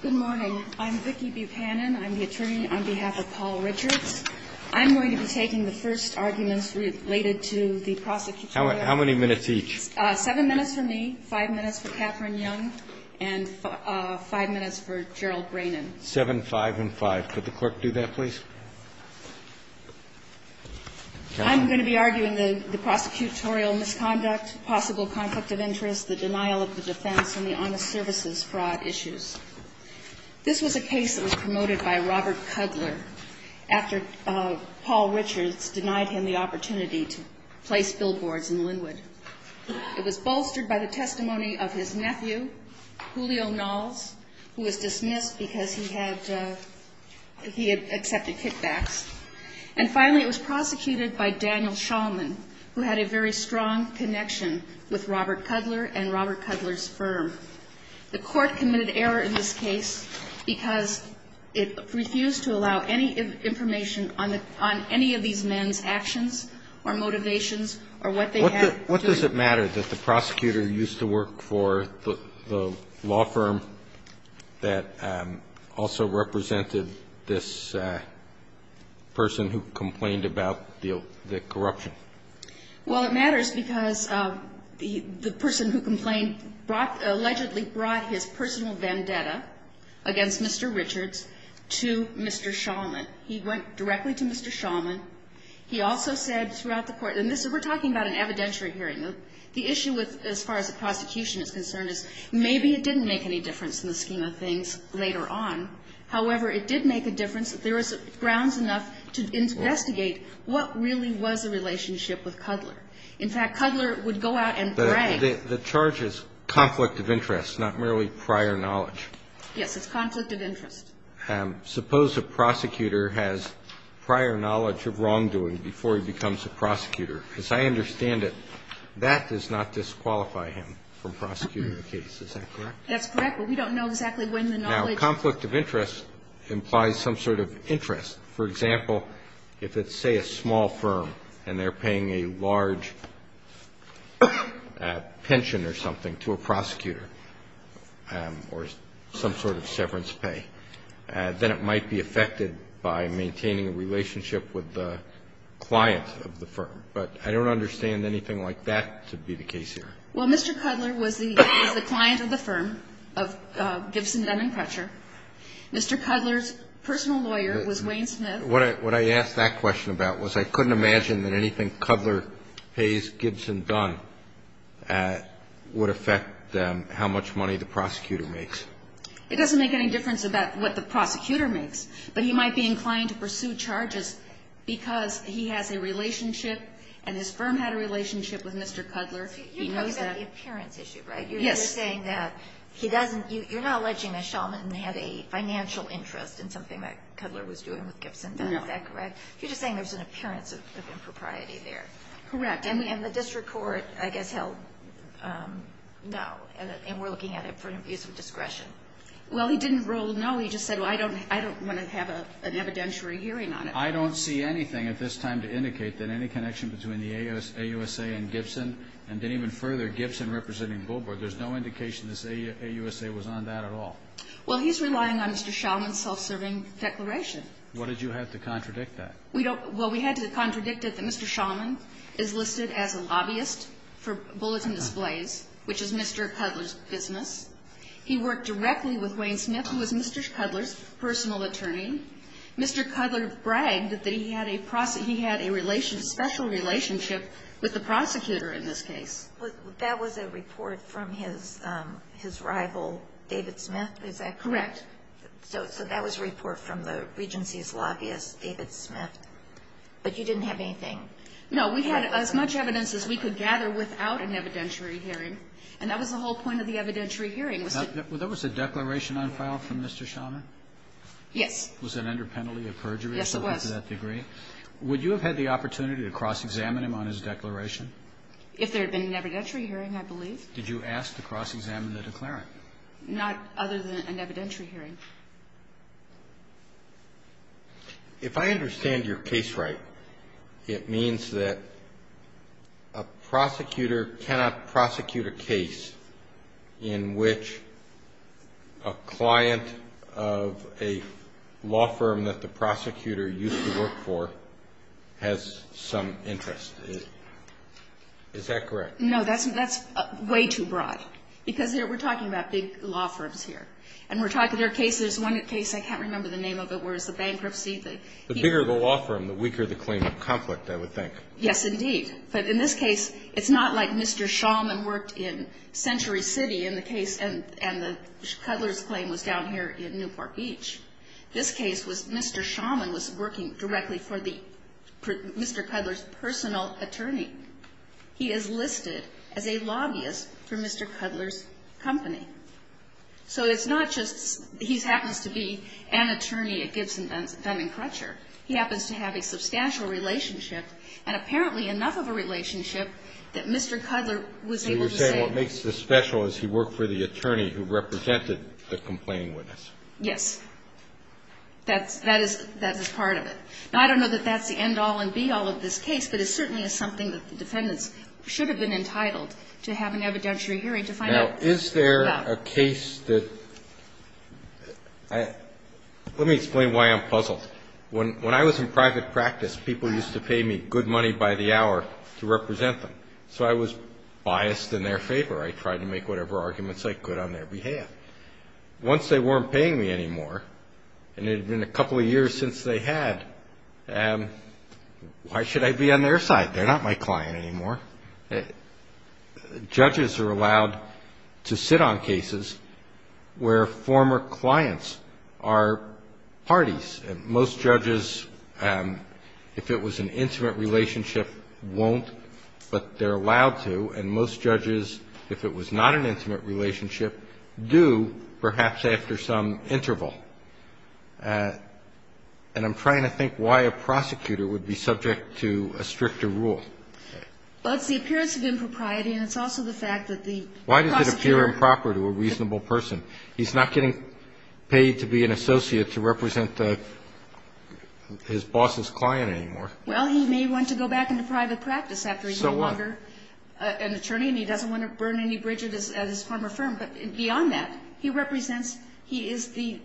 Good morning. I'm Vicki Buchanan. I'm the attorney on behalf of Paul Richards. I'm going to be taking the first arguments related to the prosecutorial misconduct. How many minutes each? Seven minutes for me, five minutes for Catherine Young, and five minutes for Gerald Braynon. Seven, five, and five. Could the Court do that, please? I'm going to be arguing the prosecutorial misconduct, possible conflict of interest, the denial of the defense, and the honest services fraud issues. This was a case that was promoted by Robert Cudler after Paul Richards denied him the opportunity to place billboards in Linwood. It was bolstered by the testimony of his nephew, Julio Knowles, who was dismissed because he had accepted kickbacks. And finally, it was prosecuted by Daniel Shulman, who had a very strong connection with Robert Cudler and Robert Cudler's firm. The case was dismissed because it refused to allow any information on any of these men's actions or motivations or what they had. What does it matter that the prosecutor used to work for the law firm that also represented this person who complained about the corruption? Well, it matters because the person who complained allegedly brought his personal vendetta against Mr. Richards to Mr. Shulman. He went directly to Mr. Shulman. He also said throughout the Court – and this is – we're talking about an evidentiary hearing. The issue with – as far as the prosecution is concerned is maybe it didn't make any difference in the scheme of things later on. However, it did make a difference that there was grounds enough to investigate what really was the relationship with Cudler. In fact, Cudler would go out and brag. The charge is conflict of interest, not merely prior knowledge. Yes. It's conflict of interest. Suppose a prosecutor has prior knowledge of wrongdoing before he becomes a prosecutor. As I understand it, that does not disqualify him from prosecuting the case. Is that correct? That's correct. But we don't know exactly when the knowledge – Now, conflict of interest implies some sort of interest. For example, if it's, say, a small firm and they're paying a large pension or something to a prosecutor or some sort of severance pay, then it might be affected by maintaining a relationship with the client of the firm. But I don't understand anything like that to be the case here. Well, Mr. Cudler was the client of the firm of Gibson, Dunn & Crutcher. Mr. Cudler's personal lawyer was Wayne Smith. What I asked that question about was I couldn't imagine that anything Cudler pays Gibson Dunn would affect how much money the prosecutor makes. It doesn't make any difference about what the prosecutor makes, but he might be inclined to pursue charges because he has a relationship and his firm had a relationship with Mr. Cudler. He knows that. You're talking about the appearance issue, right? Yes. You're saying that he doesn't, you're not alleging that Shulman had a financial interest in something that Cudler was doing with Gibson Dunn, is that correct? You're just saying there's an appearance of impropriety there. Correct. And the district court, I guess, held no, and we're looking at it for an abuse of discretion. Well, he didn't rule no. He just said, well, I don't want to have an evidentiary hearing on it. I don't see anything at this time to indicate that any connection between the AUSA and Gibson and then even further Gibson representing Bulbord, there's no indication this AUSA was on that at all. Well, he's relying on Mr. Shulman's self-serving declaration. What did you have to contradict that? We don't, well, we had to contradict it that Mr. Shulman is listed as a lobbyist for Bulletin Displays, which is Mr. Cudler's business. He worked directly with Wayne Smith, who was Mr. Cudler's personal attorney. Mr. Cudler bragged that he had a, he had a special relationship with the prosecutor in this case. Well, that was a report from his rival, David Smith. Is that correct? Correct. So that was a report from the Regency's lobbyist, David Smith. But you didn't have anything? No. We had as much evidence as we could gather without an evidentiary hearing. And that was the whole point of the evidentiary hearing. Was it? There was a declaration on file from Mr. Shulman? Yes. Was it under penalty of perjury or something to that degree? Yes, it was. Would you have had the opportunity to cross-examine him on his declaration? If there had been an evidentiary hearing, I believe. Did you ask to cross-examine the declarant? Not other than an evidentiary hearing. If I understand your case right, it means that a prosecutor cannot prosecute a case in which a client of a law firm that the prosecutor used to work for has some interest. Is that correct? No. That's way too broad. Because we're talking about big law firms here. And we're talking about cases, one case, I can't remember the name of it, where it's a bankruptcy. The bigger the law firm, the weaker the claim of conflict, I would think. Yes, indeed. But in this case, it's not like Mr. Shulman worked in Century City in the case, and the Cutler's claim was down here in Newport Beach. This case was Mr. Shulman was working directly for the Mr. Cutler's personal attorney. He is listed as a lobbyist for Mr. Cutler's company. So it's not just he happens to be an attorney at Gibson, Dunn & Crutcher. He happens to have a substantial relationship and apparently enough of a relationship that Mr. Cutler was able to say no. You're saying what makes this special is he worked for the attorney who represented the complaining witness. Yes. That is part of it. Now, I don't know that that's the end-all and be-all of this case, but it certainly is something that the defendants should have been entitled to have an evidentiary hearing to find out about. Now, is there a case that – let me explain why I'm puzzled. When I was in private practice, people used to pay me good money by the hour to represent them. So I was biased in their favor. I tried to make whatever arguments I could on their behalf. Once they weren't paying me anymore, and it had been a couple of years since they had, why should I be on their side? They're not my client anymore. Judges are allowed to sit on cases where former clients are parties. Most judges, if it was an intimate relationship, won't, but they're allowed to. And most judges, if it was not an intimate relationship, do, perhaps after some interval. And I'm trying to think why a prosecutor would be subject to a stricter rule. Well, it's the appearance of impropriety, and it's also the fact that the prosecutor – Why does it appear improper to a reasonable person? He's not getting paid to be an associate to represent his boss's client anymore. Well, he may want to go back into private practice after he's no longer – So what? – an attorney, and he doesn't want to burn any bridges at his former firm. But beyond that, he represents – he is the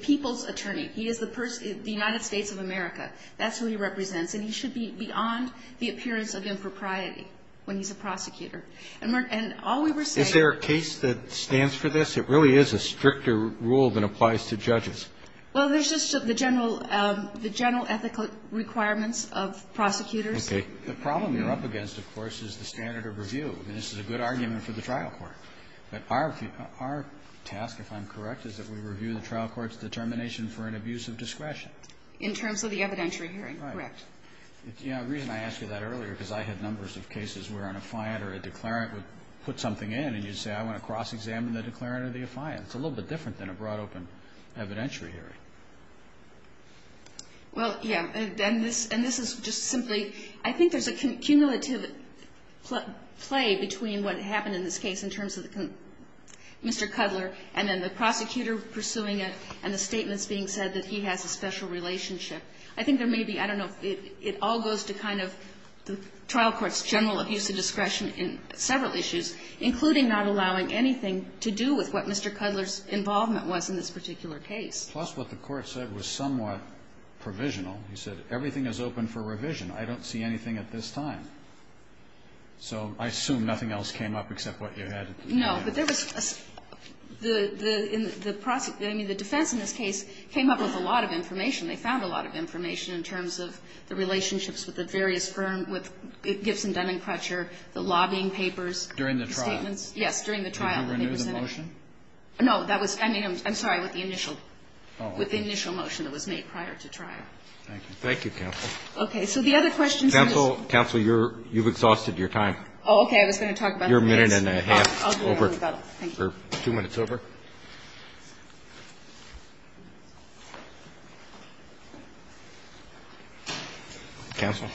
people's attorney. He is the United States of America. That's who he represents. And he should be beyond the appearance of impropriety when he's a prosecutor. And all we were saying – Is there a case that stands for this? It really is a stricter rule than applies to judges. Well, there's just the general – the general ethical requirements of prosecutors. The problem you're up against, of course, is the standard of review. I mean, this is a good argument for the trial court. But our task, if I'm correct, is that we review the trial court's determination for an abuse of discretion. In terms of the evidentiary hearing. Right. Correct. The reason I asked you that earlier, because I had numbers of cases where an affiant or a declarant would put something in, and you'd say, I want to cross-examine the declarant or the affiant. It's a little bit different than a broad-open evidentiary hearing. Well, yeah. And this is just simply – I think there's a cumulative play between what happened in this case in terms of Mr. Cudler and then the prosecutor pursuing it and the statements being said that he has a special relationship. I think there may be – I don't know if it all goes to kind of the trial court's general abuse of discretion in several issues, including not allowing anything to do with what Mr. Cudler's involvement was in this particular case. Plus, what the court said was somewhat provisional. He said, everything is open for revision. I don't see anything at this time. So I assume nothing else came up except what you had at the beginning. No. But there was a – the – in the – I mean, the defense in this case came up with a lot of information. They found a lot of information in terms of the relationships with the various firm, with Gibson, Dun & Crutcher, the lobbying papers. During the trial. The statements. Yes, during the trial. Did they renew the motion? No, that was – I mean, I'm sorry, with the initial – with the initial motion that was made prior to trial. Thank you. Thank you, counsel. Okay. So the other question is – Counsel, counsel, you're – you've exhausted your time. Oh, okay. I was going to talk about the case. You're a minute and a half over. Oh, okay. I got it. Thank you. Two minutes over. Counsel.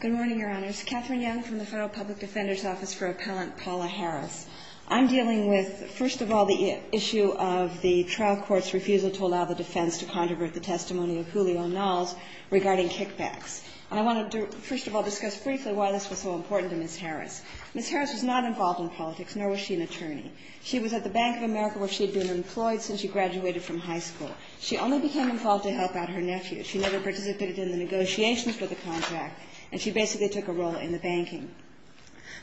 Good morning, Your Honors. Katherine Young from the Federal Public Defender's Office for Appellant Paula Harris. I'm dealing with, first of all, the issue of the trial court's refusal to allow the defense to controvert the testimony of Julio Knowles regarding kickbacks. And I want to, first of all, discuss briefly why this was so important to Ms. Harris. Ms. Harris was not involved in politics, nor was she an attorney. She was at the Bank of America where she had been employed since she graduated from high school. She only became involved to help out her nephew. She never participated in the negotiations for the contract, and she basically took a role in the banking.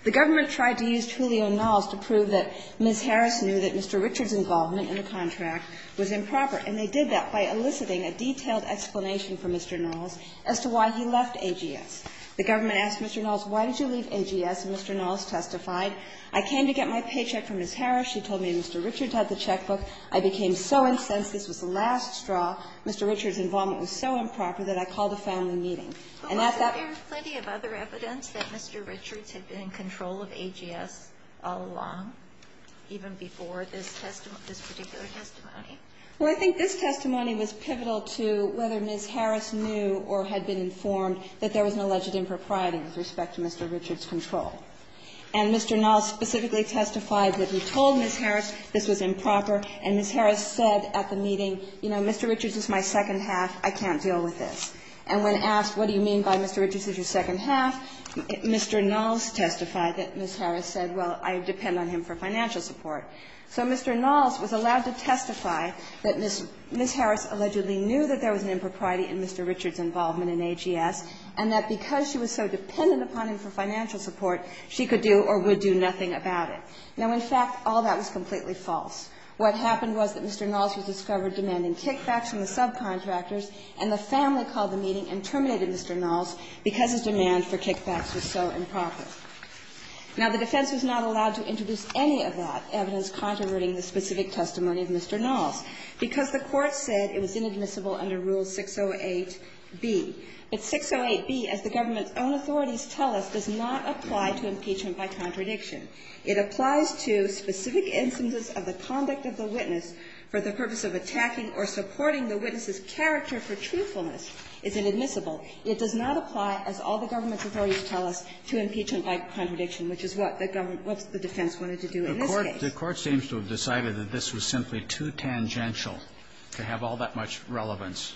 The government tried to use Julio Knowles to prove that Ms. Harris knew that Mr. Richard's involvement in the contract was improper, and they did that by eliciting a detailed explanation from Mr. Knowles as to why he left AGS. The government asked Mr. Knowles, why did you leave AGS, and Mr. Knowles testified, I came to get my paycheck from Ms. Harris. She told me Mr. Richard had the checkbook. I became so incensed. This was the last straw. Mr. Richard's involvement was so improper that I called a family meeting. And at that point Ms. Harris was not involved. Ms. Harris was not involved. Mr. Knowles testified that Mr. Richard's had been in control of AGS all along, even before this testimony, this particular testimony. Well, I think this testimony was pivotal to whether Ms. Harris knew or had been informed that there was an alleged impropriety with respect to Mr. Richard's control. And Mr. Knowles specifically testified that he told Ms. Harris this was improper, and Ms. Harris said at the meeting, you know, Mr. Richard's is my second half. I can't deal with this. And when asked what do you mean by Mr. Richard's is your second half, Mr. Knowles testified that Ms. Harris said, well, I depend on him for financial support. So Mr. Knowles was allowed to testify that Ms. Harris allegedly knew that there was an impropriety in Mr. Richard's involvement in AGS, and that because she was so dependent upon him for financial support, she could do or would do nothing about it. Now, in fact, all that was completely false. What happened was that Mr. Knowles was discovered demanding kickbacks from the contractors, and the family called the meeting and terminated Mr. Knowles because his demand for kickbacks was so improper. Now, the defense was not allowed to introduce any of that evidence contrary to the specific testimony of Mr. Knowles, because the Court said it was inadmissible under Rule 608B. But 608B, as the government's own authorities tell us, does not apply to impeachment by contradiction. It applies to specific instances of the conduct of the witness for the purpose of attacking or supporting the witness's character for truthfulness. It's inadmissible. It does not apply, as all the government's authorities tell us, to impeachment by contradiction, which is what the defense wanted to do in this case. The Court seems to have decided that this was simply too tangential to have all that much relevance.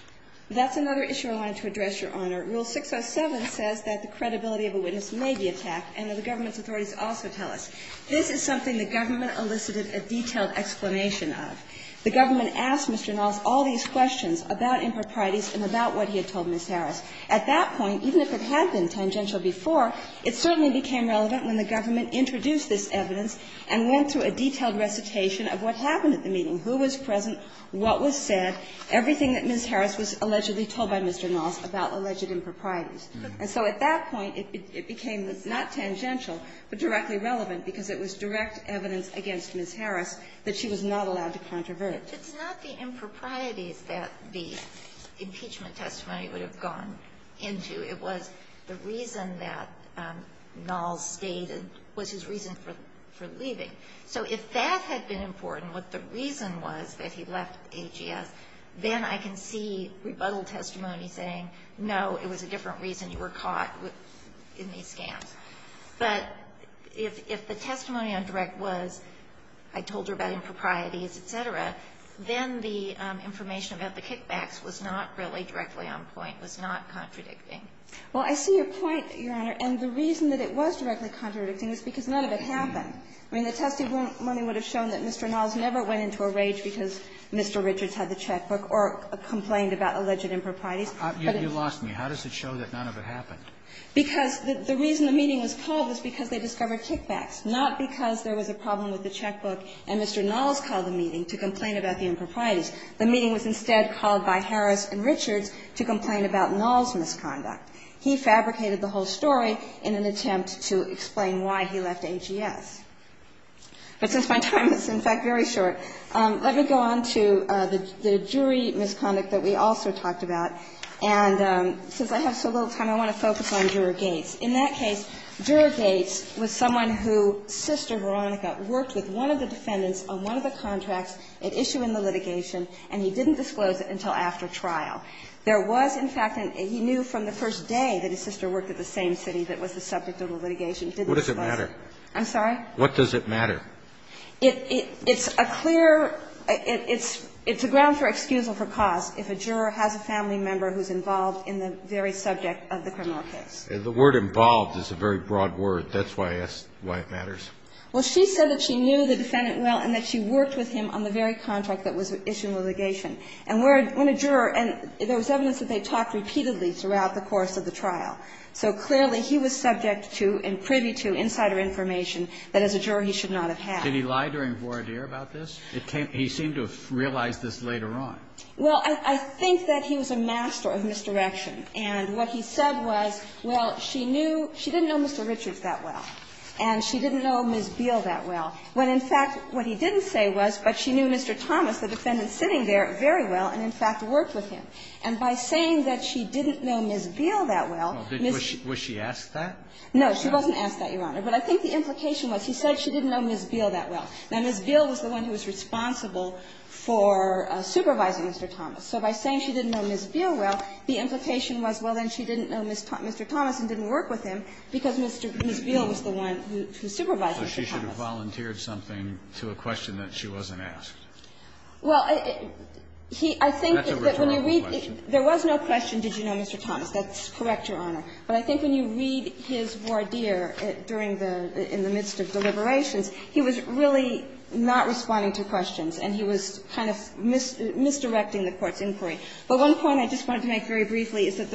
That's another issue I wanted to address, Your Honor. Rule 607 says that the credibility of a witness may be attacked, and that the government's authorities also tell us. This is something the government elicited a detailed explanation of. The government asked Mr. Knowles all these questions about improprieties and about what he had told Ms. Harris. At that point, even if it had been tangential before, it certainly became relevant when the government introduced this evidence and went through a detailed recitation of what happened at the meeting, who was present, what was said, everything that Ms. Harris was allegedly told by Mr. Knowles about alleged improprieties. And so at that point, it became not tangential, but directly relevant, because it was direct evidence against Ms. Harris that she was not allowed to contravert. It's not the improprieties that the impeachment testimony would have gone into. It was the reason that Knowles stated was his reason for leaving. So if that had been important, what the reason was that he left AGS, then I can see rebuttal testimony saying, no, it was a different reason you were caught in these scams. But if the testimony on direct was, I told her about improprieties, et cetera, then the information about the kickbacks was not really directly on point, was not contradicting. Well, I see your point, Your Honor, and the reason that it was directly contradicting was because none of it happened. I mean, the testimony would have shown that Mr. Knowles never went into a rage because Mr. Richards had the checkbook or complained about alleged improprieties. You lost me. How does it show that none of it happened? Because the reason the meeting was called was because they discovered kickbacks, not because there was a problem with the checkbook and Mr. Knowles called the meeting to complain about the improprieties. The meeting was instead called by Harris and Richards to complain about Knowles' misconduct. He fabricated the whole story in an attempt to explain why he left AGS. But since my time is, in fact, very short, let me go on to the jury misconduct that we also talked about. And since I have so little time, I want to focus on Juror Gates. In that case, Juror Gates was someone who, Sister Veronica, worked with one of the defendants on one of the contracts at issue in the litigation, and he didn't disclose it until after trial. There was, in fact, he knew from the first day that his sister worked at the same city that was the subject of the litigation. He didn't disclose it. What does it matter? I'm sorry? What does it matter? It's a clear – it's a ground for excusal for cause. If a juror has a family member who's involved in the very subject of the criminal case. The word involved is a very broad word. That's why I asked why it matters. Well, she said that she knew the defendant well and that she worked with him on the very contract that was at issue in the litigation. And when a juror – and there was evidence that they talked repeatedly throughout the course of the trial. So, clearly, he was subject to and privy to insider information that, as a juror, he should not have had. Did he lie during voir dire about this? He seemed to have realized this later on. Well, I think that he was a master of misdirection. And what he said was, well, she knew – she didn't know Mr. Richards that well. And she didn't know Ms. Beale that well. When, in fact, what he didn't say was, but she knew Mr. Thomas, the defendant sitting there, very well and, in fact, worked with him. And by saying that she didn't know Ms. Beale that well, Ms. – Well, was she asked that? No. She wasn't asked that, Your Honor. But I think the implication was he said she didn't know Ms. Beale that well. Now, Ms. Beale was the one who was responsible for supervising Mr. Thomas. So by saying she didn't know Ms. Beale well, the implication was, well, then she didn't know Mr. Thomas and didn't work with him because Ms. Beale was the one who supervised Mr. Thomas. So she should have volunteered something to a question that she wasn't asked. Well, I think that when you read – That's a returnable question. There was no question, did you know Mr. Thomas? That's correct, Your Honor. But I think when you read his voir dire during the – in the midst of deliberations, he was really not responding to questions, and he was kind of misdirecting the Court's inquiry. But one point I just wanted to make very briefly is that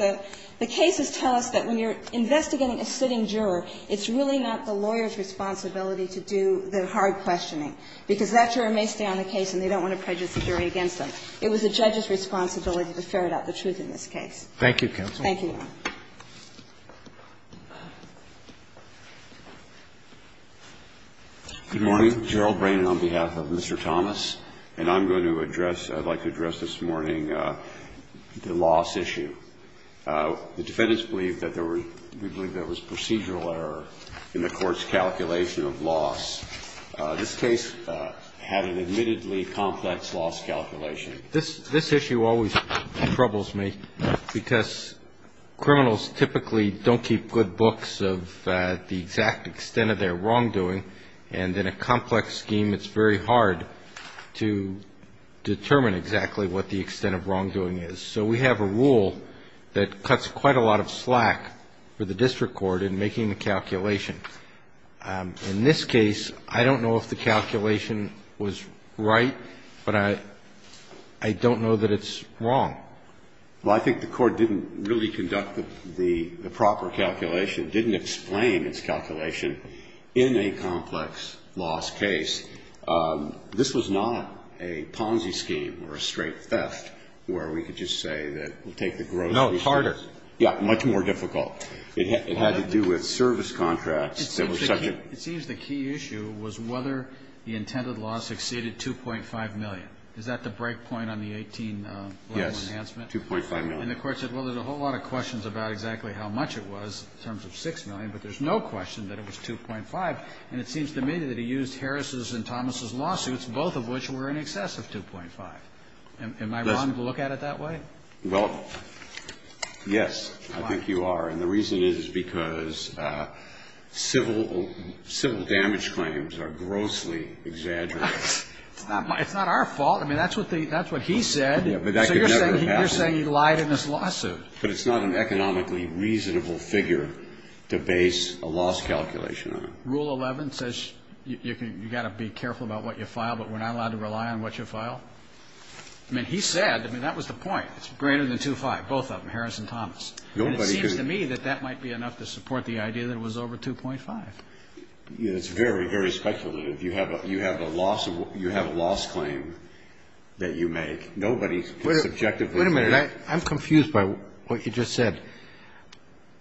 the cases tell us that when you're investigating a sitting juror, it's really not the lawyer's responsibility to do the hard questioning, because that juror may stay on the case and they don't want to prejudice the jury against them. It was the judge's responsibility to ferret out the truth in this case. Thank you, counsel. Thank you, Your Honor. Good morning. Gerald Brannon on behalf of Mr. Thomas, and I'm going to address – I'd like to address this morning the loss issue. The defendants believe that there was – we believe there was procedural error in the Court's calculation of loss. This case had an admittedly complex loss calculation. Criminals typically don't keep good books of the exact extent of their wrongdoing, and in a complex scheme, it's very hard to determine exactly what the extent of wrongdoing is. So we have a rule that cuts quite a lot of slack for the district court in making the calculation. In this case, I don't know if the calculation was right, but I don't know that it's wrong. Well, I think the Court didn't really conduct the proper calculation, didn't explain its calculation in a complex loss case. This was not a Ponzi scheme or a straight theft where we could just say that we'll take the gross – No, it's harder. Yeah, much more difficult. It had to do with service contracts that were subject – It seems the key issue was whether the intended loss exceeded 2.5 million. Is that the break point on the 18 level enhancement? Yes, 2.5 million. And the Court said, well, there's a whole lot of questions about exactly how much it was in terms of 6 million, but there's no question that it was 2.5, and it seems to me that it used Harris' and Thomas' lawsuits, both of which were in excess of 2.5. Am I wrong to look at it that way? Well, yes, I think you are. And the reason is because civil damage claims are grossly exaggerated. It's not our fault. I mean, that's what he said. So you're saying he lied in his lawsuit. But it's not an economically reasonable figure to base a loss calculation on. Rule 11 says you've got to be careful about what you file, but we're not allowed to rely on what you file. I mean, he said – I mean, that was the point. It's greater than 2.5, both of them, Harris and Thomas. And it seems to me that that might be enough to support the idea that it was over 2.5. It's very, very speculative. You have a loss claim that you make. Nobody can subjectively – Wait a minute. I'm confused by what you just said.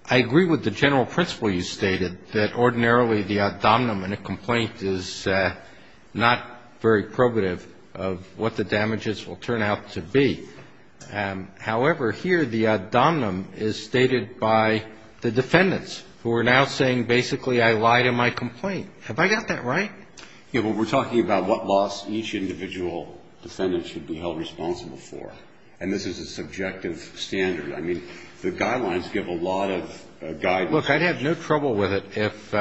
I agree with the general principle you stated, that ordinarily the ad dominum in a complaint is not very probative of what the damages will turn out to be. However, here the ad dominum is stated by the defendants, who are now saying basically I lied in my complaint. Have I got that right? Yeah, but we're talking about what loss each individual defendant should be held responsible for. And this is a subjective standard. I mean, the guidelines give a lot of guidance. Look, I'd have no trouble with it if,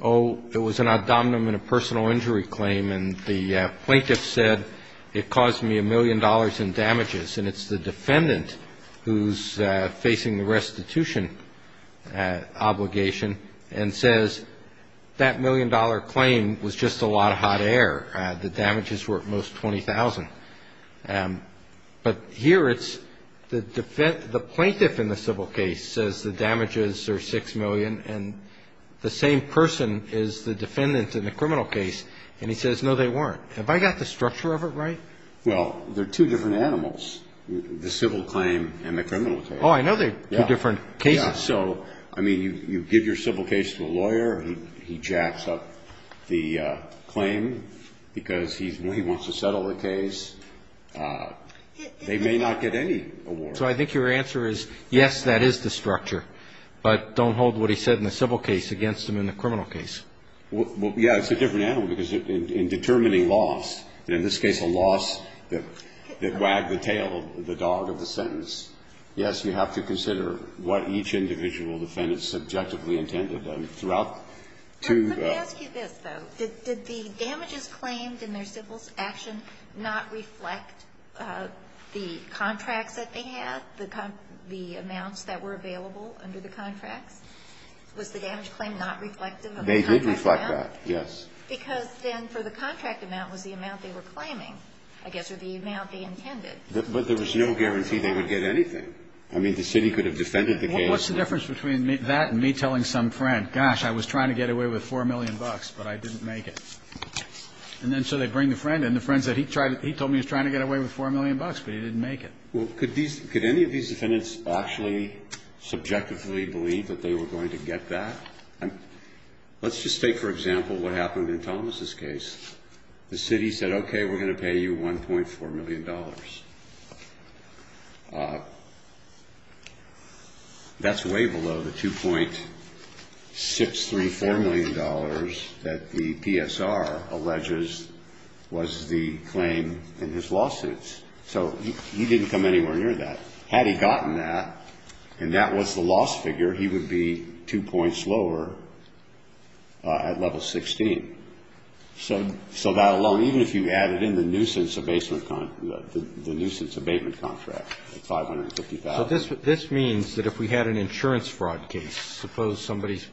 oh, it was an ad dominum in a personal injury claim and the plaintiff said it caused me a million dollars in damages. And it's the defendant who's facing the restitution obligation and says that million-dollar claim was just a lot of hot air. The damages were at most $20,000. But here it's the plaintiff in the civil case says the damages are $6 million and the same person is the defendant in the criminal case. And he says, no, they weren't. Have I got the structure of it right? Well, they're two different animals, the civil claim and the criminal case. Oh, I know they're two different cases. So, I mean, you give your civil case to a lawyer. He jacks up the claim because he wants to settle the case. They may not get any award. So I think your answer is, yes, that is the structure. But don't hold what he said in the civil case against him in the criminal case. Well, yeah, it's a different animal because in determining loss, and in this case a loss that wagged the tail of the dog of the sentence, yes, you have to consider what each individual defendant subjectively intended. And throughout two of them. Let me ask you this, though. Did the damages claimed in their civil action not reflect the contracts that they had, the amounts that were available under the contracts? Was the damage claim not reflective of the contracts? They did reflect that, yes. Because then for the contract amount was the amount they were claiming, I guess, or the amount they intended. But there was no guarantee they would get anything. I mean, the city could have defended the case. What's the difference between that and me telling some friend, gosh, I was trying to get away with $4 million, but I didn't make it? And then so they bring the friend in. The friend said he told me he was trying to get away with $4 million, but he didn't make it. Well, could any of these defendants actually subjectively believe that they were going to get that? Let's just take, for example, what happened in Thomas' case. The city said, okay, we're going to pay you $1.4 million. That's way below the $2.634 million that the PSR alleges was the claim in his lawsuits. So he didn't come anywhere near that. Had he gotten that, and that was the loss figure, he would be two points lower at level 16. So that alone, even if you added in the nuisance abatement contract, the $550,000. So this means that if we had an insurance fraud case, suppose somebody's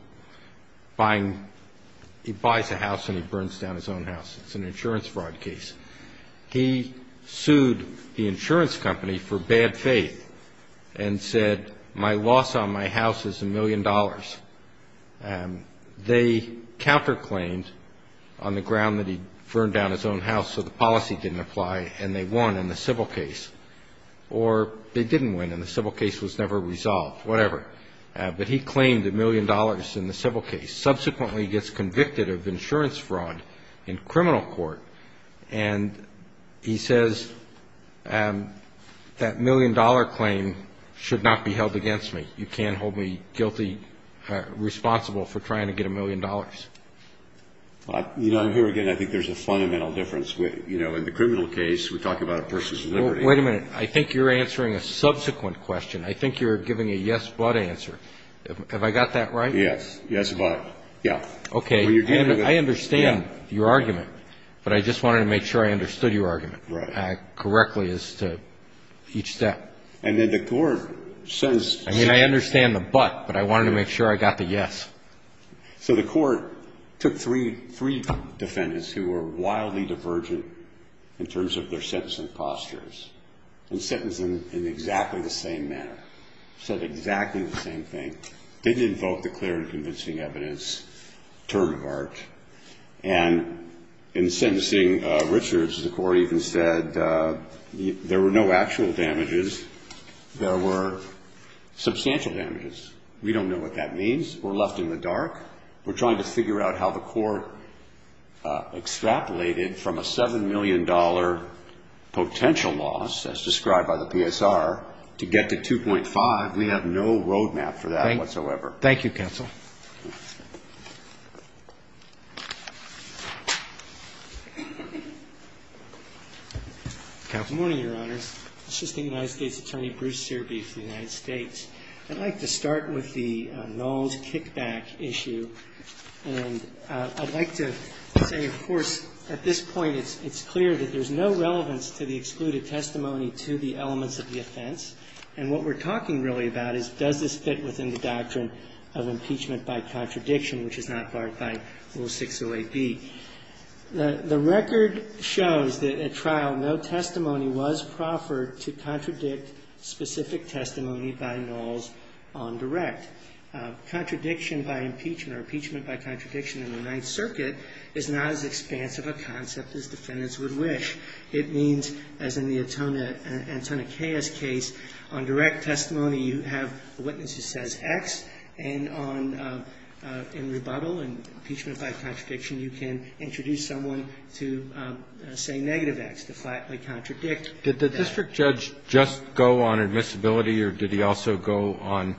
buying, he buys a house and he burns down his own house. It's an insurance fraud case. He sued the insurance company for bad faith and said, my loss on my house is $1 million. They counterclaimed on the ground that he burned down his own house so the policy didn't apply and they won in the civil case. Or they didn't win and the civil case was never resolved, whatever. But he claimed $1 million in the civil case. Subsequently, he gets convicted of insurance fraud in criminal court and he says that $1 million claim should not be held against me. You can't hold me guilty, responsible for trying to get $1 million. I'm here again. I think there's a fundamental difference. In the criminal case, we talk about a person's liberty. Wait a minute. I think you're answering a subsequent question. I think you're giving a yes, but answer. Have I got that right? Yes. Yes, but. Yeah. Okay. I understand your argument, but I just wanted to make sure I understood your argument correctly as to each step. And then the court says. I mean, I understand the but, but I wanted to make sure I got the yes. So the court took three defendants who were wildly divergent in terms of their sentencing postures and sentenced them in exactly the same manner. Said exactly the same thing. Didn't invoke the clear and convincing evidence term of art. And in sentencing Richards, the court even said there were no actual damages. There were substantial damages. We don't know what that means. We're left in the dark. We're trying to figure out how the court extrapolated from a $7 million potential loss, as described by the PSR, to get to 2.5. We have no road map for that whatsoever. Thank you, counsel. Good morning, Your Honors. Assistant United States Attorney Bruce Searby for the United States. I'd like to start with the nulls kickback issue. And I'd like to say, of course, at this point it's clear that there's no relevance to the excluded testimony to the elements of the offense. And what we're talking really about is does this fit within the doctrine of impeachment by contradiction, which is not barred by Rule 608B. The record shows that at trial no testimony was proffered to contradict specific testimony by nulls on direct. Contradiction by impeachment or impeachment by contradiction in the Ninth Circuit is not as expansive a concept as defendants would wish. It means, as in the Antonia K.S. case, on direct testimony you have a witness who says X, and on rebuttal and impeachment by contradiction you can introduce someone to say negative X, to flatly contradict that. Did the district judge just go on admissibility or did he also go on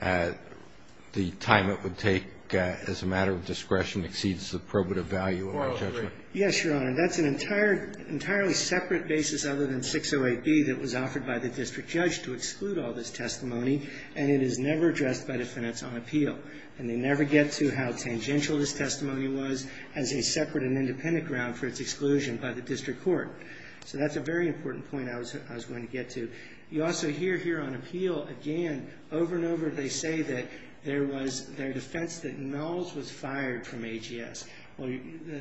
the time it would take as a matter of discretion exceeds the probative value of the judgment? Yes, Your Honor. That's an entirely separate basis other than 608B that was offered by the district judge to exclude all this testimony, and it is never addressed by defendants on appeal. And they never get to how tangential this testimony was as a separate and independent ground for its exclusion by the district court. So that's a very important point I was going to get to. You also hear here on appeal, again, over and over they say that there was their defense that nulls was fired from AGS. Well,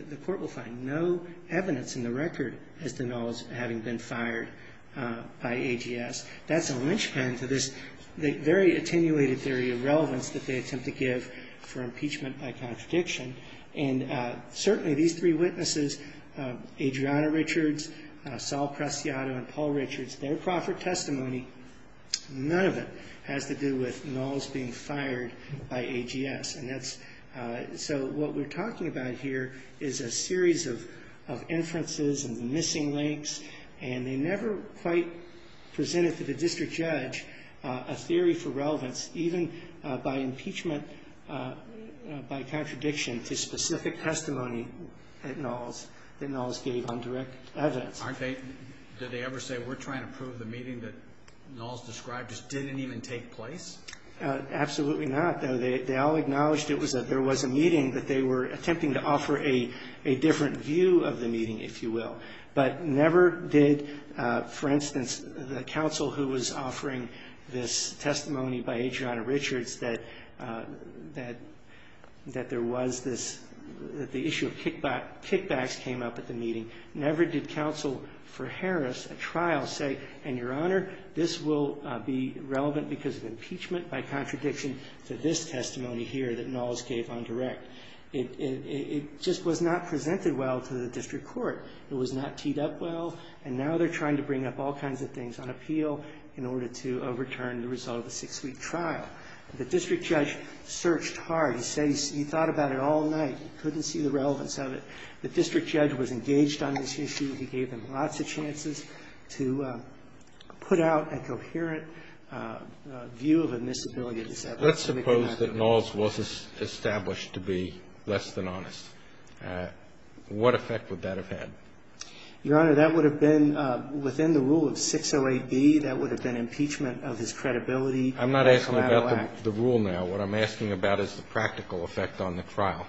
the court will find no evidence in the record as to nulls having been fired by AGS. That's a linchpin to this very attenuated theory of relevance that they attempt to give for impeachment by contradiction. And certainly these three witnesses, Adriana Richards, Saul Preciado, and Paul Richards, their proffered testimony, none of it has to do with nulls being fired by AGS. So what we're talking about here is a series of inferences and missing links, and they never quite presented to the district judge a theory for relevance, even by impeachment by contradiction to specific testimony that nulls gave on direct evidence. Did they ever say, we're trying to prove the meeting that nulls described just didn't even take place? Absolutely not. They all acknowledged it was that there was a meeting that they were attempting to offer a different view of the meeting, if you will. But never did, for instance, the counsel who was offering this testimony by Adriana Richards that there was this, that the issue of kickbacks came up at the meeting, never did counsel for Harris at trial say, and Your Honor, this will be relevant because of impeachment by contradiction to this testimony here that nulls gave on direct. It just was not presented well to the district court. It was not teed up well, and now they're trying to bring up all kinds of things on appeal in order to overturn the result of a six-week trial. The district judge searched hard. He thought about it all night. He couldn't see the relevance of it. The district judge was engaged on this issue. He gave them lots of chances to put out a coherent view of admissibility. Let's suppose that nulls was established to be less than honest. What effect would that have had? Your Honor, that would have been within the rule of 608B. That would have been impeachment of his credibility. I'm not asking about the rule now. What I'm asking about is the practical effect on the trial.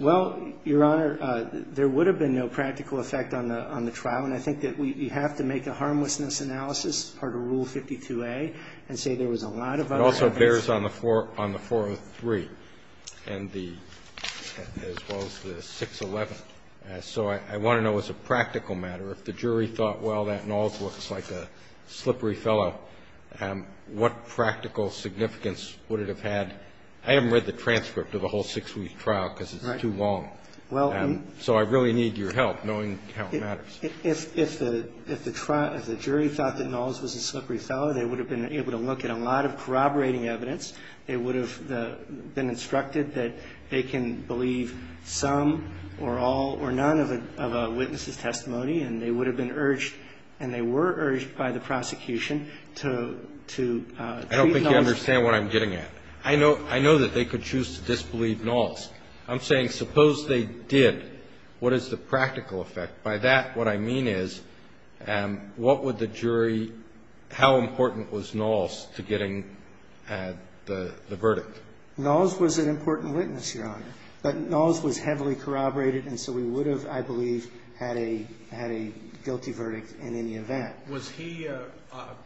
Well, Your Honor, there would have been no practical effect on the trial, and I think that we have to make a harmlessness analysis part of Rule 52A and say there was a lot of other evidence. It also bears on the 403 as well as the 611. So I want to know as a practical matter, if the jury thought, well, that nulls was like a slippery fellow, what practical significance would it have had? I haven't read the transcript of the whole six-week trial because it's too long. So I really need your help knowing how it matters. If the jury thought that nulls was a slippery fellow, they would have been able to look at a lot of corroborating evidence. They would have been instructed that they can believe some or all or none of a witness's testimony, and they would have been urged and they were urged by the prosecution to treat nulls. I don't think you understand what I'm getting at. I know that they could choose to disbelieve nulls. I'm saying suppose they did. What is the practical effect? By that, what I mean is what would the jury – how important was nulls to getting the verdict? Nulls was an important witness, Your Honor, but nulls was heavily corroborated and so we would have, I believe, had a guilty verdict in any event. Was he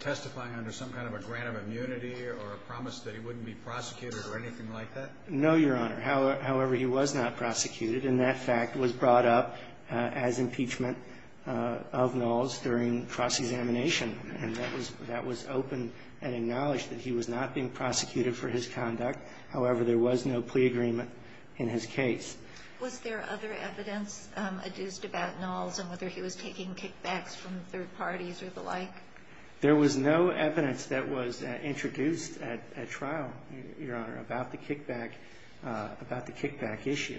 testifying under some kind of a grant of immunity or a promise that he wouldn't be prosecuted or anything like that? No, Your Honor. However, he was not prosecuted and that fact was brought up as impeachment of nulls during cross-examination and that was open and acknowledged that he was not being prosecuted for his conduct. However, there was no plea agreement in his case. Was there other evidence adduced about nulls and whether he was taking kickbacks from third parties or the like? There was no evidence that was introduced at trial, Your Honor, about the kickback issue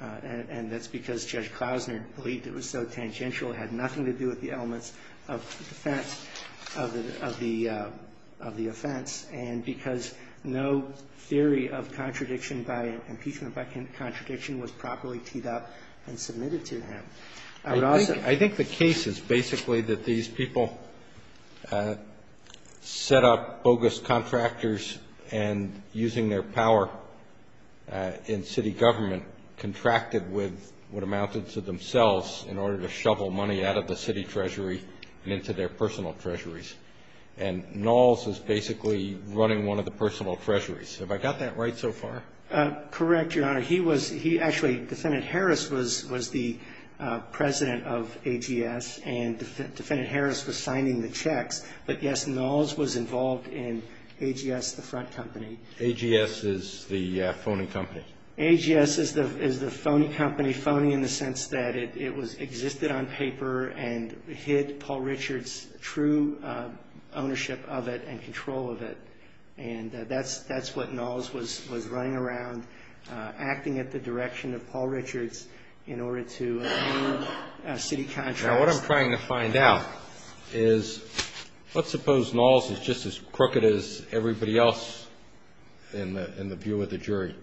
and that's because Judge Klausner believed it was so tangential. It had nothing to do with the elements of defense of the offense and because no theory of contradiction by impeachment by contradiction was properly teed up and submitted to him. I think the case is basically that these people set up bogus contractors and using their power in city government contracted with what amounted to themselves in order to shovel money out of the city treasury and into their personal treasuries and nulls is basically running one of the personal treasuries. Have I got that right so far? Correct, Your Honor. Actually, Defendant Harris was the president of AGS and Defendant Harris was signing the checks but, yes, nulls was involved in AGS, the front company. AGS is the phony company? AGS is the phony company, phony in the sense that it existed on paper and hid Paul Richards' true ownership of it and control of it and that's what nulls was running around acting at the direction of Paul Richards in order to ruin city contracts. Now, what I'm trying to find out is let's suppose nulls is just as crooked as everybody else in the view of the jury.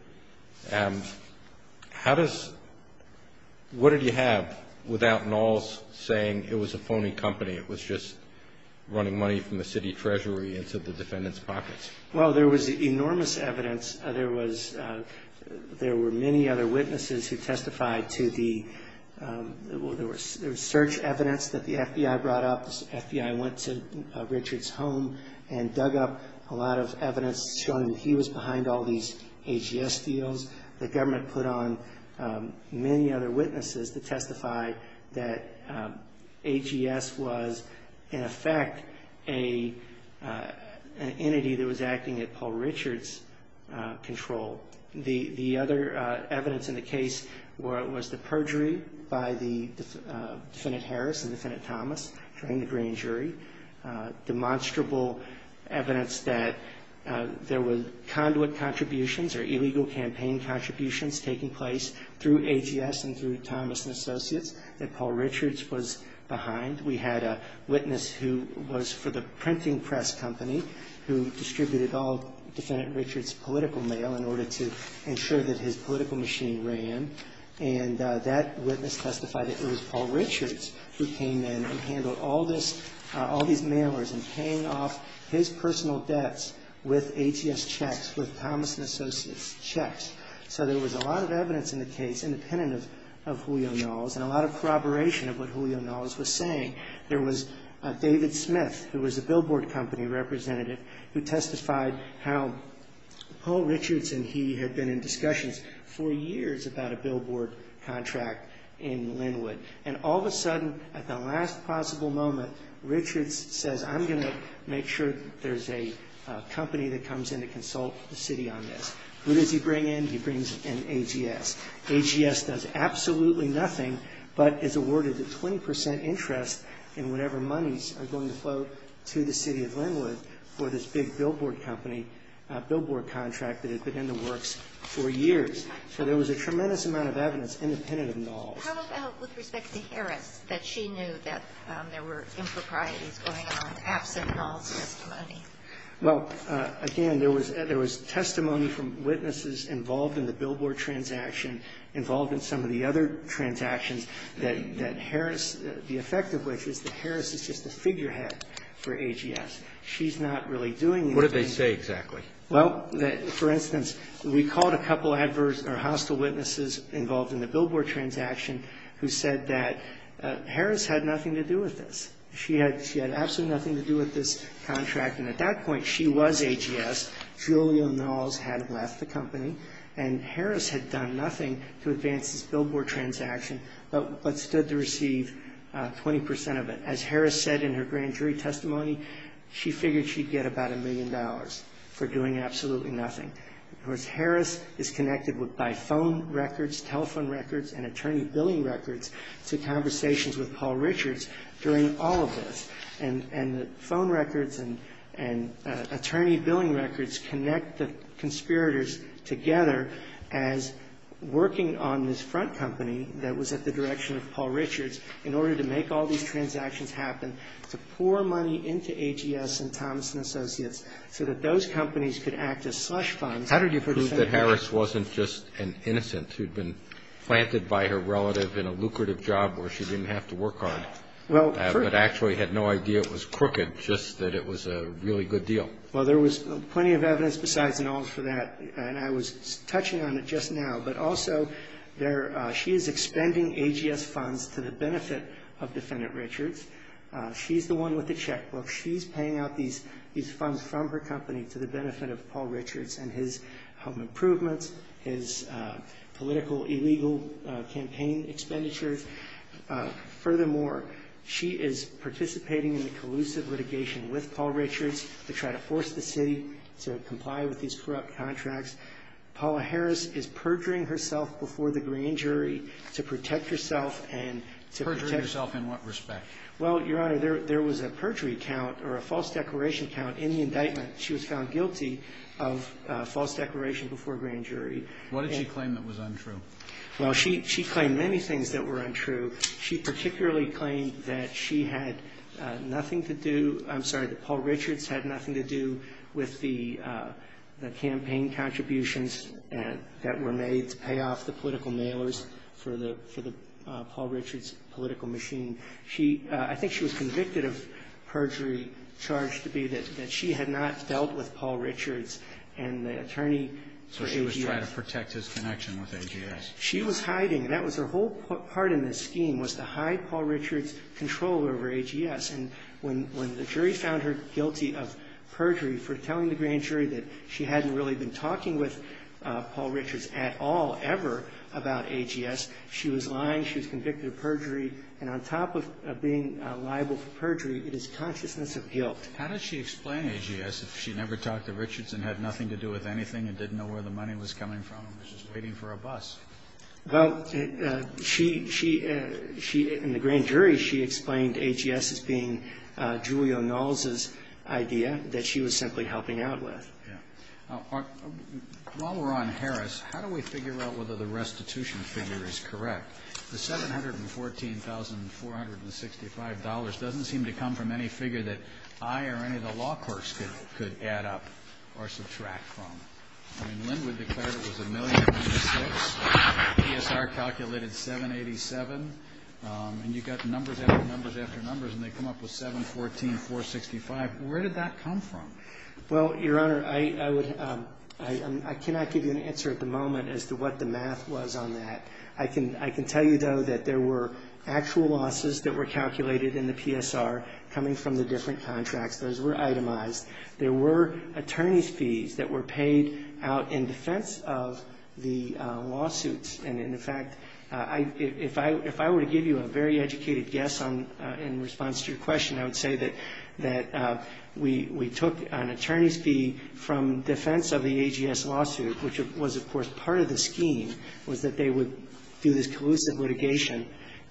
What did you have without nulls saying it was a phony company, it was just running money from the city treasury into the defendant's pockets? Well, there was enormous evidence. There were many other witnesses who testified to the search evidence that the FBI brought up. The FBI went to Richards' home and dug up a lot of evidence showing that he was behind all these AGS deals. The government put on many other witnesses to testify that AGS was, in effect, an AGS that was acting at Paul Richards' control. The other evidence in the case was the perjury by the defendant Harris and defendant Thomas during the grand jury. Demonstrable evidence that there was conduit contributions or illegal campaign contributions taking place through AGS and through Thomas and Associates that Paul Richards was behind. We had a witness who was for the printing press company who distributed all defendant Richards' political mail in order to ensure that his political machine ran. And that witness testified that it was Paul Richards who came in and handled all these mailers and paying off his personal debts with AGS checks, with Thomas and Associates checks. So there was a lot of evidence in the case independent of Julio Nulls and a lot of corroboration of what Julio Nulls was saying. There was David Smith who was a billboard company representative who testified how Paul Richards and he had been in discussions for years about a billboard contract in Linwood. And all of a sudden, at the last possible moment, Richards says, I'm going to make sure there's a company that comes in to consult the city on this. Who does he bring in? He brings in AGS. AGS does absolutely nothing but is awarded the 20 percent interest in whatever monies are going to flow to the city of Linwood for this big billboard company, billboard contract that had been in the works for years. So there was a tremendous amount of evidence independent of Nulls. How about with respect to Harris that she knew that there were improprieties going on absent Nulls' testimony? The billboard transaction involved in some of the other transactions that Harris the effect of which is that Harris is just a figurehead for AGS. She's not really doing anything. What did they say exactly? Well, for instance, we called a couple adverse or hostile witnesses involved in the billboard transaction who said that Harris had nothing to do with this. She had absolutely nothing to do with this contract. And at that point, she was AGS. Julio Nulls had left the company. And Harris had done nothing to advance this billboard transaction but stood to receive 20 percent of it. As Harris said in her grand jury testimony, she figured she'd get about a million dollars for doing absolutely nothing. Of course, Harris is connected by phone records, telephone records, and attorney billing records to conversations with Paul Richards during all of this. And the phone records and attorney billing records connect the conspirators together as working on this front company that was at the direction of Paul Richards in order to make all these transactions happen, to pour money into AGS and Thomson Associates so that those companies could act as slush funds. How did you prove that Harris wasn't just an innocent who'd been planted by her relative in a lucrative job where she didn't have to work hard but actually had no idea it was crooked, just that it was a really good deal? Well, there was plenty of evidence besides Nulls for that. And I was touching on it just now. But also, she is expending AGS funds to the benefit of Defendant Richards. She's the one with the checkbook. She's paying out these funds from her company to the benefit of Paul Richards and his home improvements, his political illegal campaign expenditures. Furthermore, she is participating in the collusive litigation with Paul Richards to try to force the city to comply with these corrupt contracts. Paula Harris is perjuring herself before the grand jury to protect herself and to protect Perjuring yourself in what respect? Well, Your Honor, there was a perjury count or a false declaration count in the indictment. She was found guilty of false declaration before grand jury. What did she claim that was untrue? Well, she claimed many things that were untrue. She particularly claimed that she had nothing to do I'm sorry, that Paul Richards had nothing to do with the campaign contributions that were made to pay off the political mailers for the Paul Richards political machine. I think she was convicted of perjury charged to be that she had not dealt with Paul Richards and the attorney for AGS. So she was trying to protect his connection with AGS. She was hiding. That was her whole part in this scheme was to hide Paul Richards' control over AGS. And when the jury found her guilty of perjury for telling the grand jury that she hadn't really been talking with Paul Richards at all ever about AGS, she was lying. She was convicted of perjury. And on top of being liable for perjury, it is consciousness of guilt. How did she explain AGS if she never talked to Richards and had nothing to do with anything and didn't know where the money was coming from and was just waiting for a bus? Well, she and the grand jury, she explained AGS as being Julia Knowles' idea that she was simply helping out with. Yeah. While we're on Harris, how do we figure out whether the restitution figure is correct? The $714,465 doesn't seem to come from any figure that I or any of the law courts could add up or subtract from. I mean, Linwood declared it was $1,096,000. PSR calculated $787,000. And you got numbers after numbers after numbers, and they come up with $714,465. Where did that come from? Well, Your Honor, I cannot give you an answer at the moment as to what the math was on that. I can tell you, though, that there were actual losses that were calculated in the PSR coming from the different contracts. Those were itemized. There were attorney's fees that were paid out in defense of the lawsuits. And, in fact, if I were to give you a very educated guess in response to your question, I would say that we took an attorney's fee from defense of the AGS lawsuit, which was, of course, part of the scheme, was that they would do this collusive litigation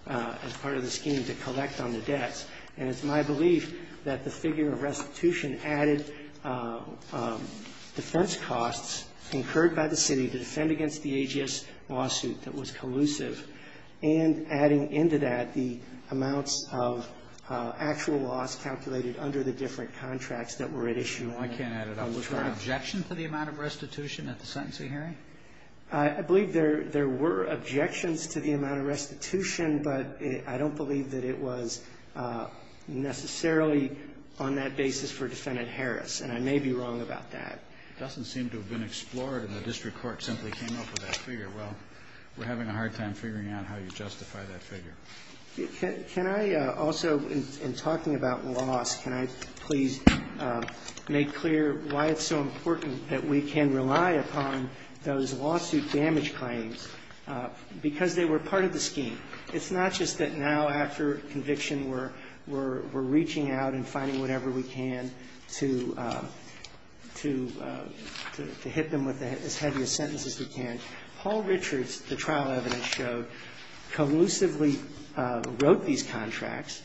as part of the scheme to collect on the debts. And it's my belief that the figure of restitution added defense costs incurred by the city to defend against the AGS lawsuit that was collusive, and adding into that the amounts of actual loss calculated under the different contracts that were at issue. No, I can't add it up. Was there an objection to the amount of restitution at the sentencing hearing? I believe there were objections to the amount of restitution, but I don't believe that it was necessarily on that basis for Defendant Harris, and I may be wrong about that. It doesn't seem to have been explored, and the district court simply came up with that figure. Well, we're having a hard time figuring out how you justify that figure. Can I also, in talking about loss, can I please make clear why it's so important that we can rely upon those lawsuit damage claims? Because they were part of the scheme. It's not just that now, after conviction, we're reaching out and finding whatever we can to hit them with as heavy a sentence as we can. Paul Richards, the trial evidence showed, collusively wrote these contracts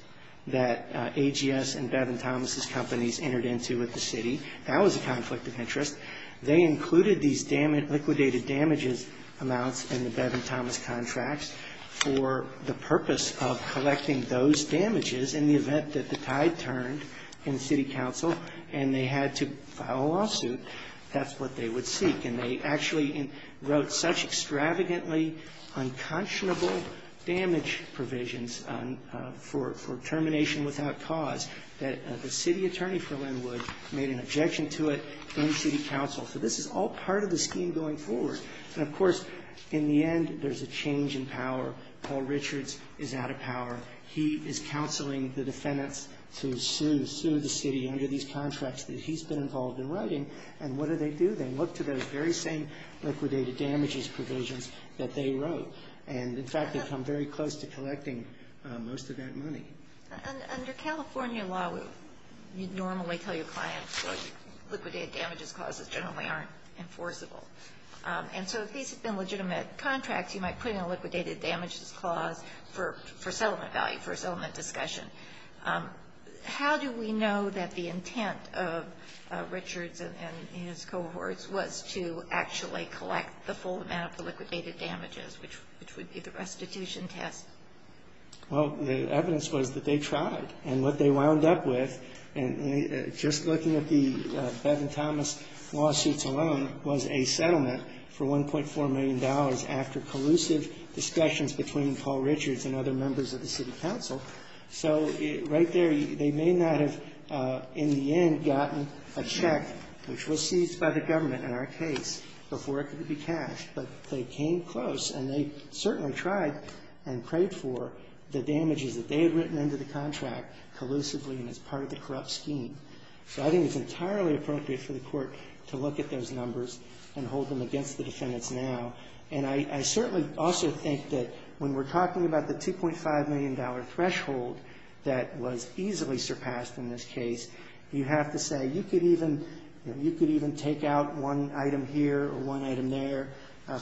that AGS and Bevin Thomas's companies entered into with the city. That was a conflict of interest. They included these liquidated damages amounts in the Bevin Thomas contracts for the purpose of collecting those damages in the event that the tide turned in city council and they had to file a lawsuit. That's what they would seek. And they actually wrote such extravagantly unconscionable damage provisions for termination without cause that the city attorney for Lynwood made an objection to it in city council. So this is all part of the scheme going forward. And, of course, in the end, there's a change in power. Paul Richards is out of power. He is counseling the defendants to sue the city under these contracts that he's been involved in writing. And what do they do? They look to those very same liquidated damages provisions that they wrote. And, in fact, they've come very close to collecting most of that money. Under California law, you'd normally tell your clients that liquidated damages clauses generally aren't enforceable. And so if these have been legitimate contracts, you might put in a liquidated damages clause for settlement value, for settlement discussion. How do we know that the intent of Richards and his cohorts was to actually collect the full amount of the liquidated damages, which would be the restitution test? Well, the evidence was that they tried. And what they wound up with, just looking at the Bevin-Thomas lawsuits alone, was a settlement for $1.4 million after collusive discussions between Paul Richards and other members of the city council. So right there, they may not have, in the end, gotten a check, which was seized by the government in our case, before it could be cashed. But they came close, and they certainly tried and prayed for the damages that they had written into the contract collusively and as part of the corrupt scheme. So I think it's entirely appropriate for the court to look at those numbers and hold them against the defendants now. And I certainly also think that when we're talking about the $2.5 million threshold that was easily surpassed in this case, you have to say you could even take out one item here or one item there,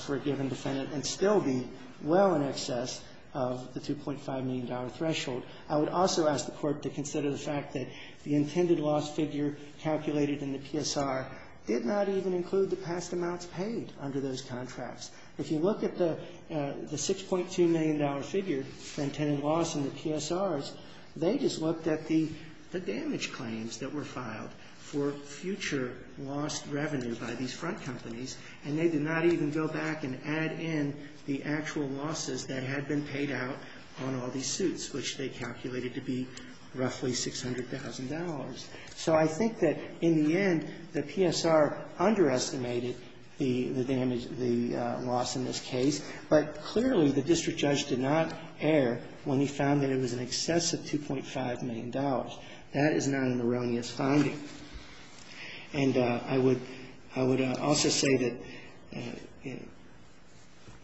for a given defendant, and still be well in excess of the $2.5 million threshold. I would also ask the court to consider the fact that the intended loss figure calculated in the PSR did not even include the past amounts paid under those contracts. If you look at the $6.2 million figure for intended loss in the PSRs, they just looked at the damage claims that were filed for future lost revenue by these front companies, and they did not even go back and add in the actual losses that had been paid out on all these suits, which they calculated to be roughly $600,000. So I think that in the end, the PSR underestimated the loss in this case, but clearly the district judge did not err when he found that it was in excess of $2.5 million. That is not an erroneous finding. And I would also say that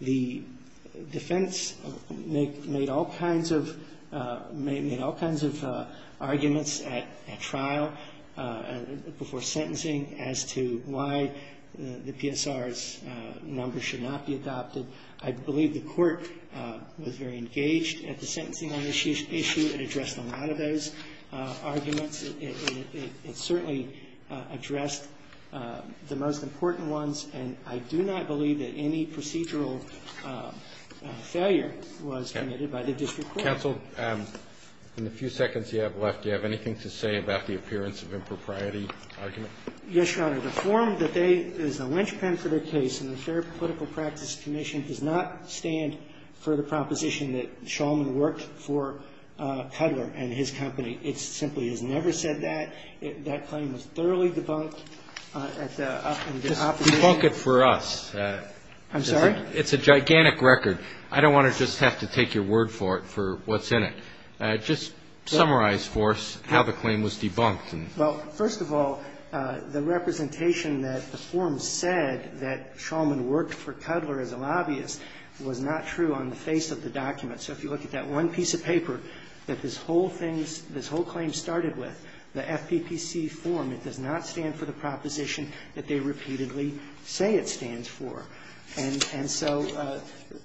the defense made all kinds of arguments at trial before sentencing as to why the PSR's number should not be adopted. I believe the court was very engaged at the sentencing issue and addressed a lot of those arguments. It certainly addressed the most important ones, and I do not believe that any procedural failure was committed by the district court. Counsel, in the few seconds you have left, do you have anything to say about the appearance of impropriety argument? Yes, Your Honor. The form that is a linchpin for the case in the Fair Political Practice Commission does not stand for the proposition that Shulman worked for Peddler and his company. It simply has never said that. That claim was thoroughly debunked. Just debunk it for us. I'm sorry? It's a gigantic record. I don't want to just have to take your word for it for what's in it. Just summarize for us how the claim was debunked. Well, first of all, the representation that the form said that Shulman worked for Peddler as a lobbyist was not true on the face of the document. So if you look at that one piece of paper, that this whole thing, this whole claim started with, the FPPC form, it does not stand for the proposition that they repeatedly say it stands for. And so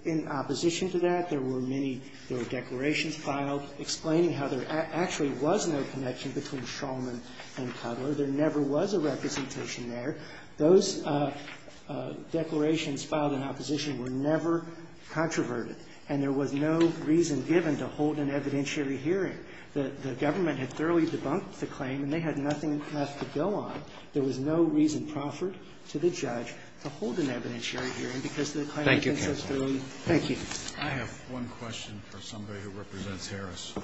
in opposition to that, there were many, there were declarations filed explaining how there actually was no connection between Shulman and Peddler. There never was a representation there. Those declarations filed in opposition were never controverted. And there was no reason given to hold an evidentiary hearing. The government had thoroughly debunked the claim and they had nothing left to go on. There was no reason proffered to the judge to hold an evidentiary hearing because the claim had been so thoroughly debunked. Thank you. I have one question for somebody who represents Harris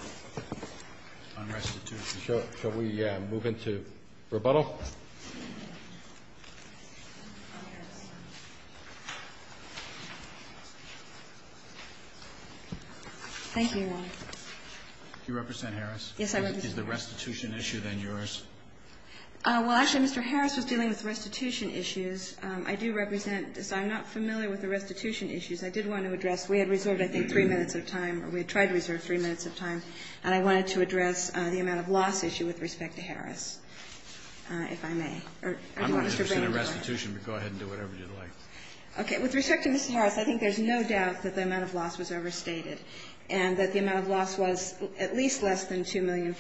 on restitution. Shall we move into rebuttal? Thank you, Your Honor. Do you represent Harris? Yes, I represent Harris. Is the restitution issue then yours? Well, actually, Mr. Harris was dealing with restitution issues. I do represent, so I'm not familiar with the restitution issues. I did want to address, we had reserved, I think, three minutes of time, or we had tried to reserve three minutes of time, the amount of loss issue with respect to Harris. The amount of loss issue is the amount of loss if I may. I'm not interested in restitution, but go ahead and do whatever you'd like. Okay. With respect to Mr. Harris, I think there's no doubt that the amount of loss was overstated and that the amount of loss was at least less than $2.5 million.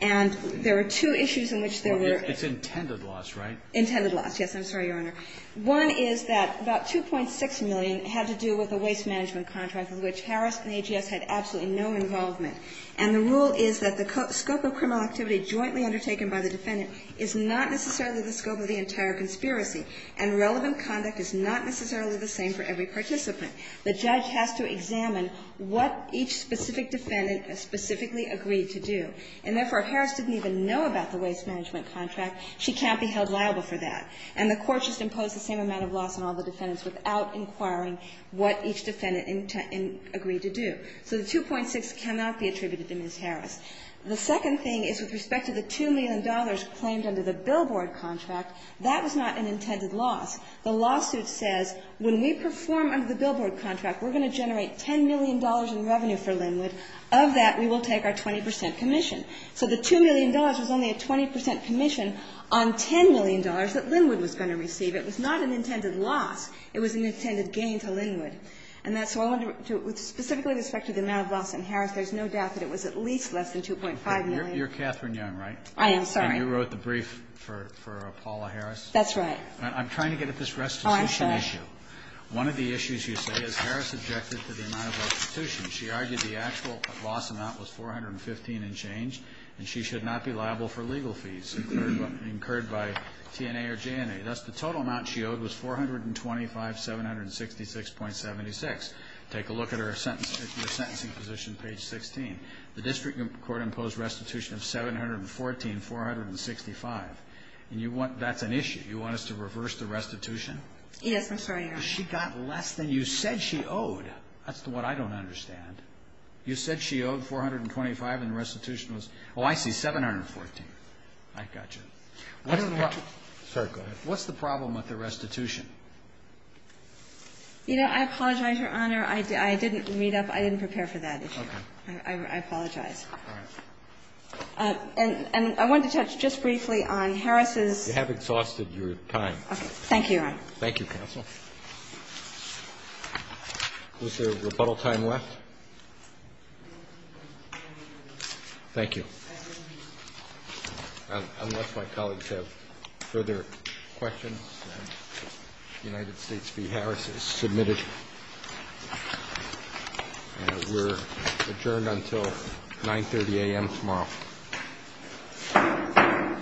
And there were two issues in which there were It's intended loss, right? Intended loss, yes. I'm sorry, Your Honor. One is that about $2.6 million had to do with a waste management contract with which Harris and AGS had absolutely no involvement. And the rule is that the scope of criminal activity jointly undertaken by the defendant is not necessarily the scope of the entire conspiracy. And relevant conduct is not necessarily the same for every participant. The judge has to examine what each specific defendant specifically agreed to do. And therefore, Harris didn't even know about the waste management contract. She can't be held liable for that. And the Court just imposed the same amount of loss on all the defendants without inquiring what each defendant agreed to do. So the $2.6 cannot be attributed to Ms. Harris. The second thing is with respect to the $2 million claimed under the billboard contract, that was not an intended loss. The lawsuit says when we perform under the billboard contract we're going to generate $10 million in revenue for Linwood. Of that, we will take our 20 percent commission. So the $2 million was only a 20 percent commission on $10 million that Linwood was going to receive. It was not an intended loss. It was an intended gain to Linwood. And that's why I wanted to specifically with respect to the amount of loss in Harris, there's no doubt that it was at least less than 2.5 million. You're Catherine Young, right? I am, sorry. And you wrote the brief for Paula Harris? That's right. I'm trying to get at this restitution issue. Oh, I'm sorry. One of the issues you say is Harris objected to the amount of restitution. She argued the actual loss amount was 415 and changed, and she should not be liable for legal fees incurred by TNA or JNA. Thus, the total amount she owed was 425,766.76. Take a look at her sentencing position, page 16. The district court imposed a restitution of 714,465. And you want that's an issue. You want us to reverse the restitution? Yes, I'm sorry, Your Honor. Because she got less than you said she owed. That's what I don't understand. You said she owed 425 and the restitution was oh, I see 714. I got you. What's the problem? Sorry, go ahead. What's the problem with the restitution? You know, I apologize, Your Honor. I didn't read up. I didn't prepare for that issue. Okay. I apologize. All right. And I wanted to touch just briefly on Harris's You have exhausted your time. Okay. Thank you, Your Honor. Thank you, counsel. Was there rebuttal time left? Thank you. Unless my colleagues have further questions, United States v. Harris is submitted. We're adjourned until 930 a.m. tomorrow.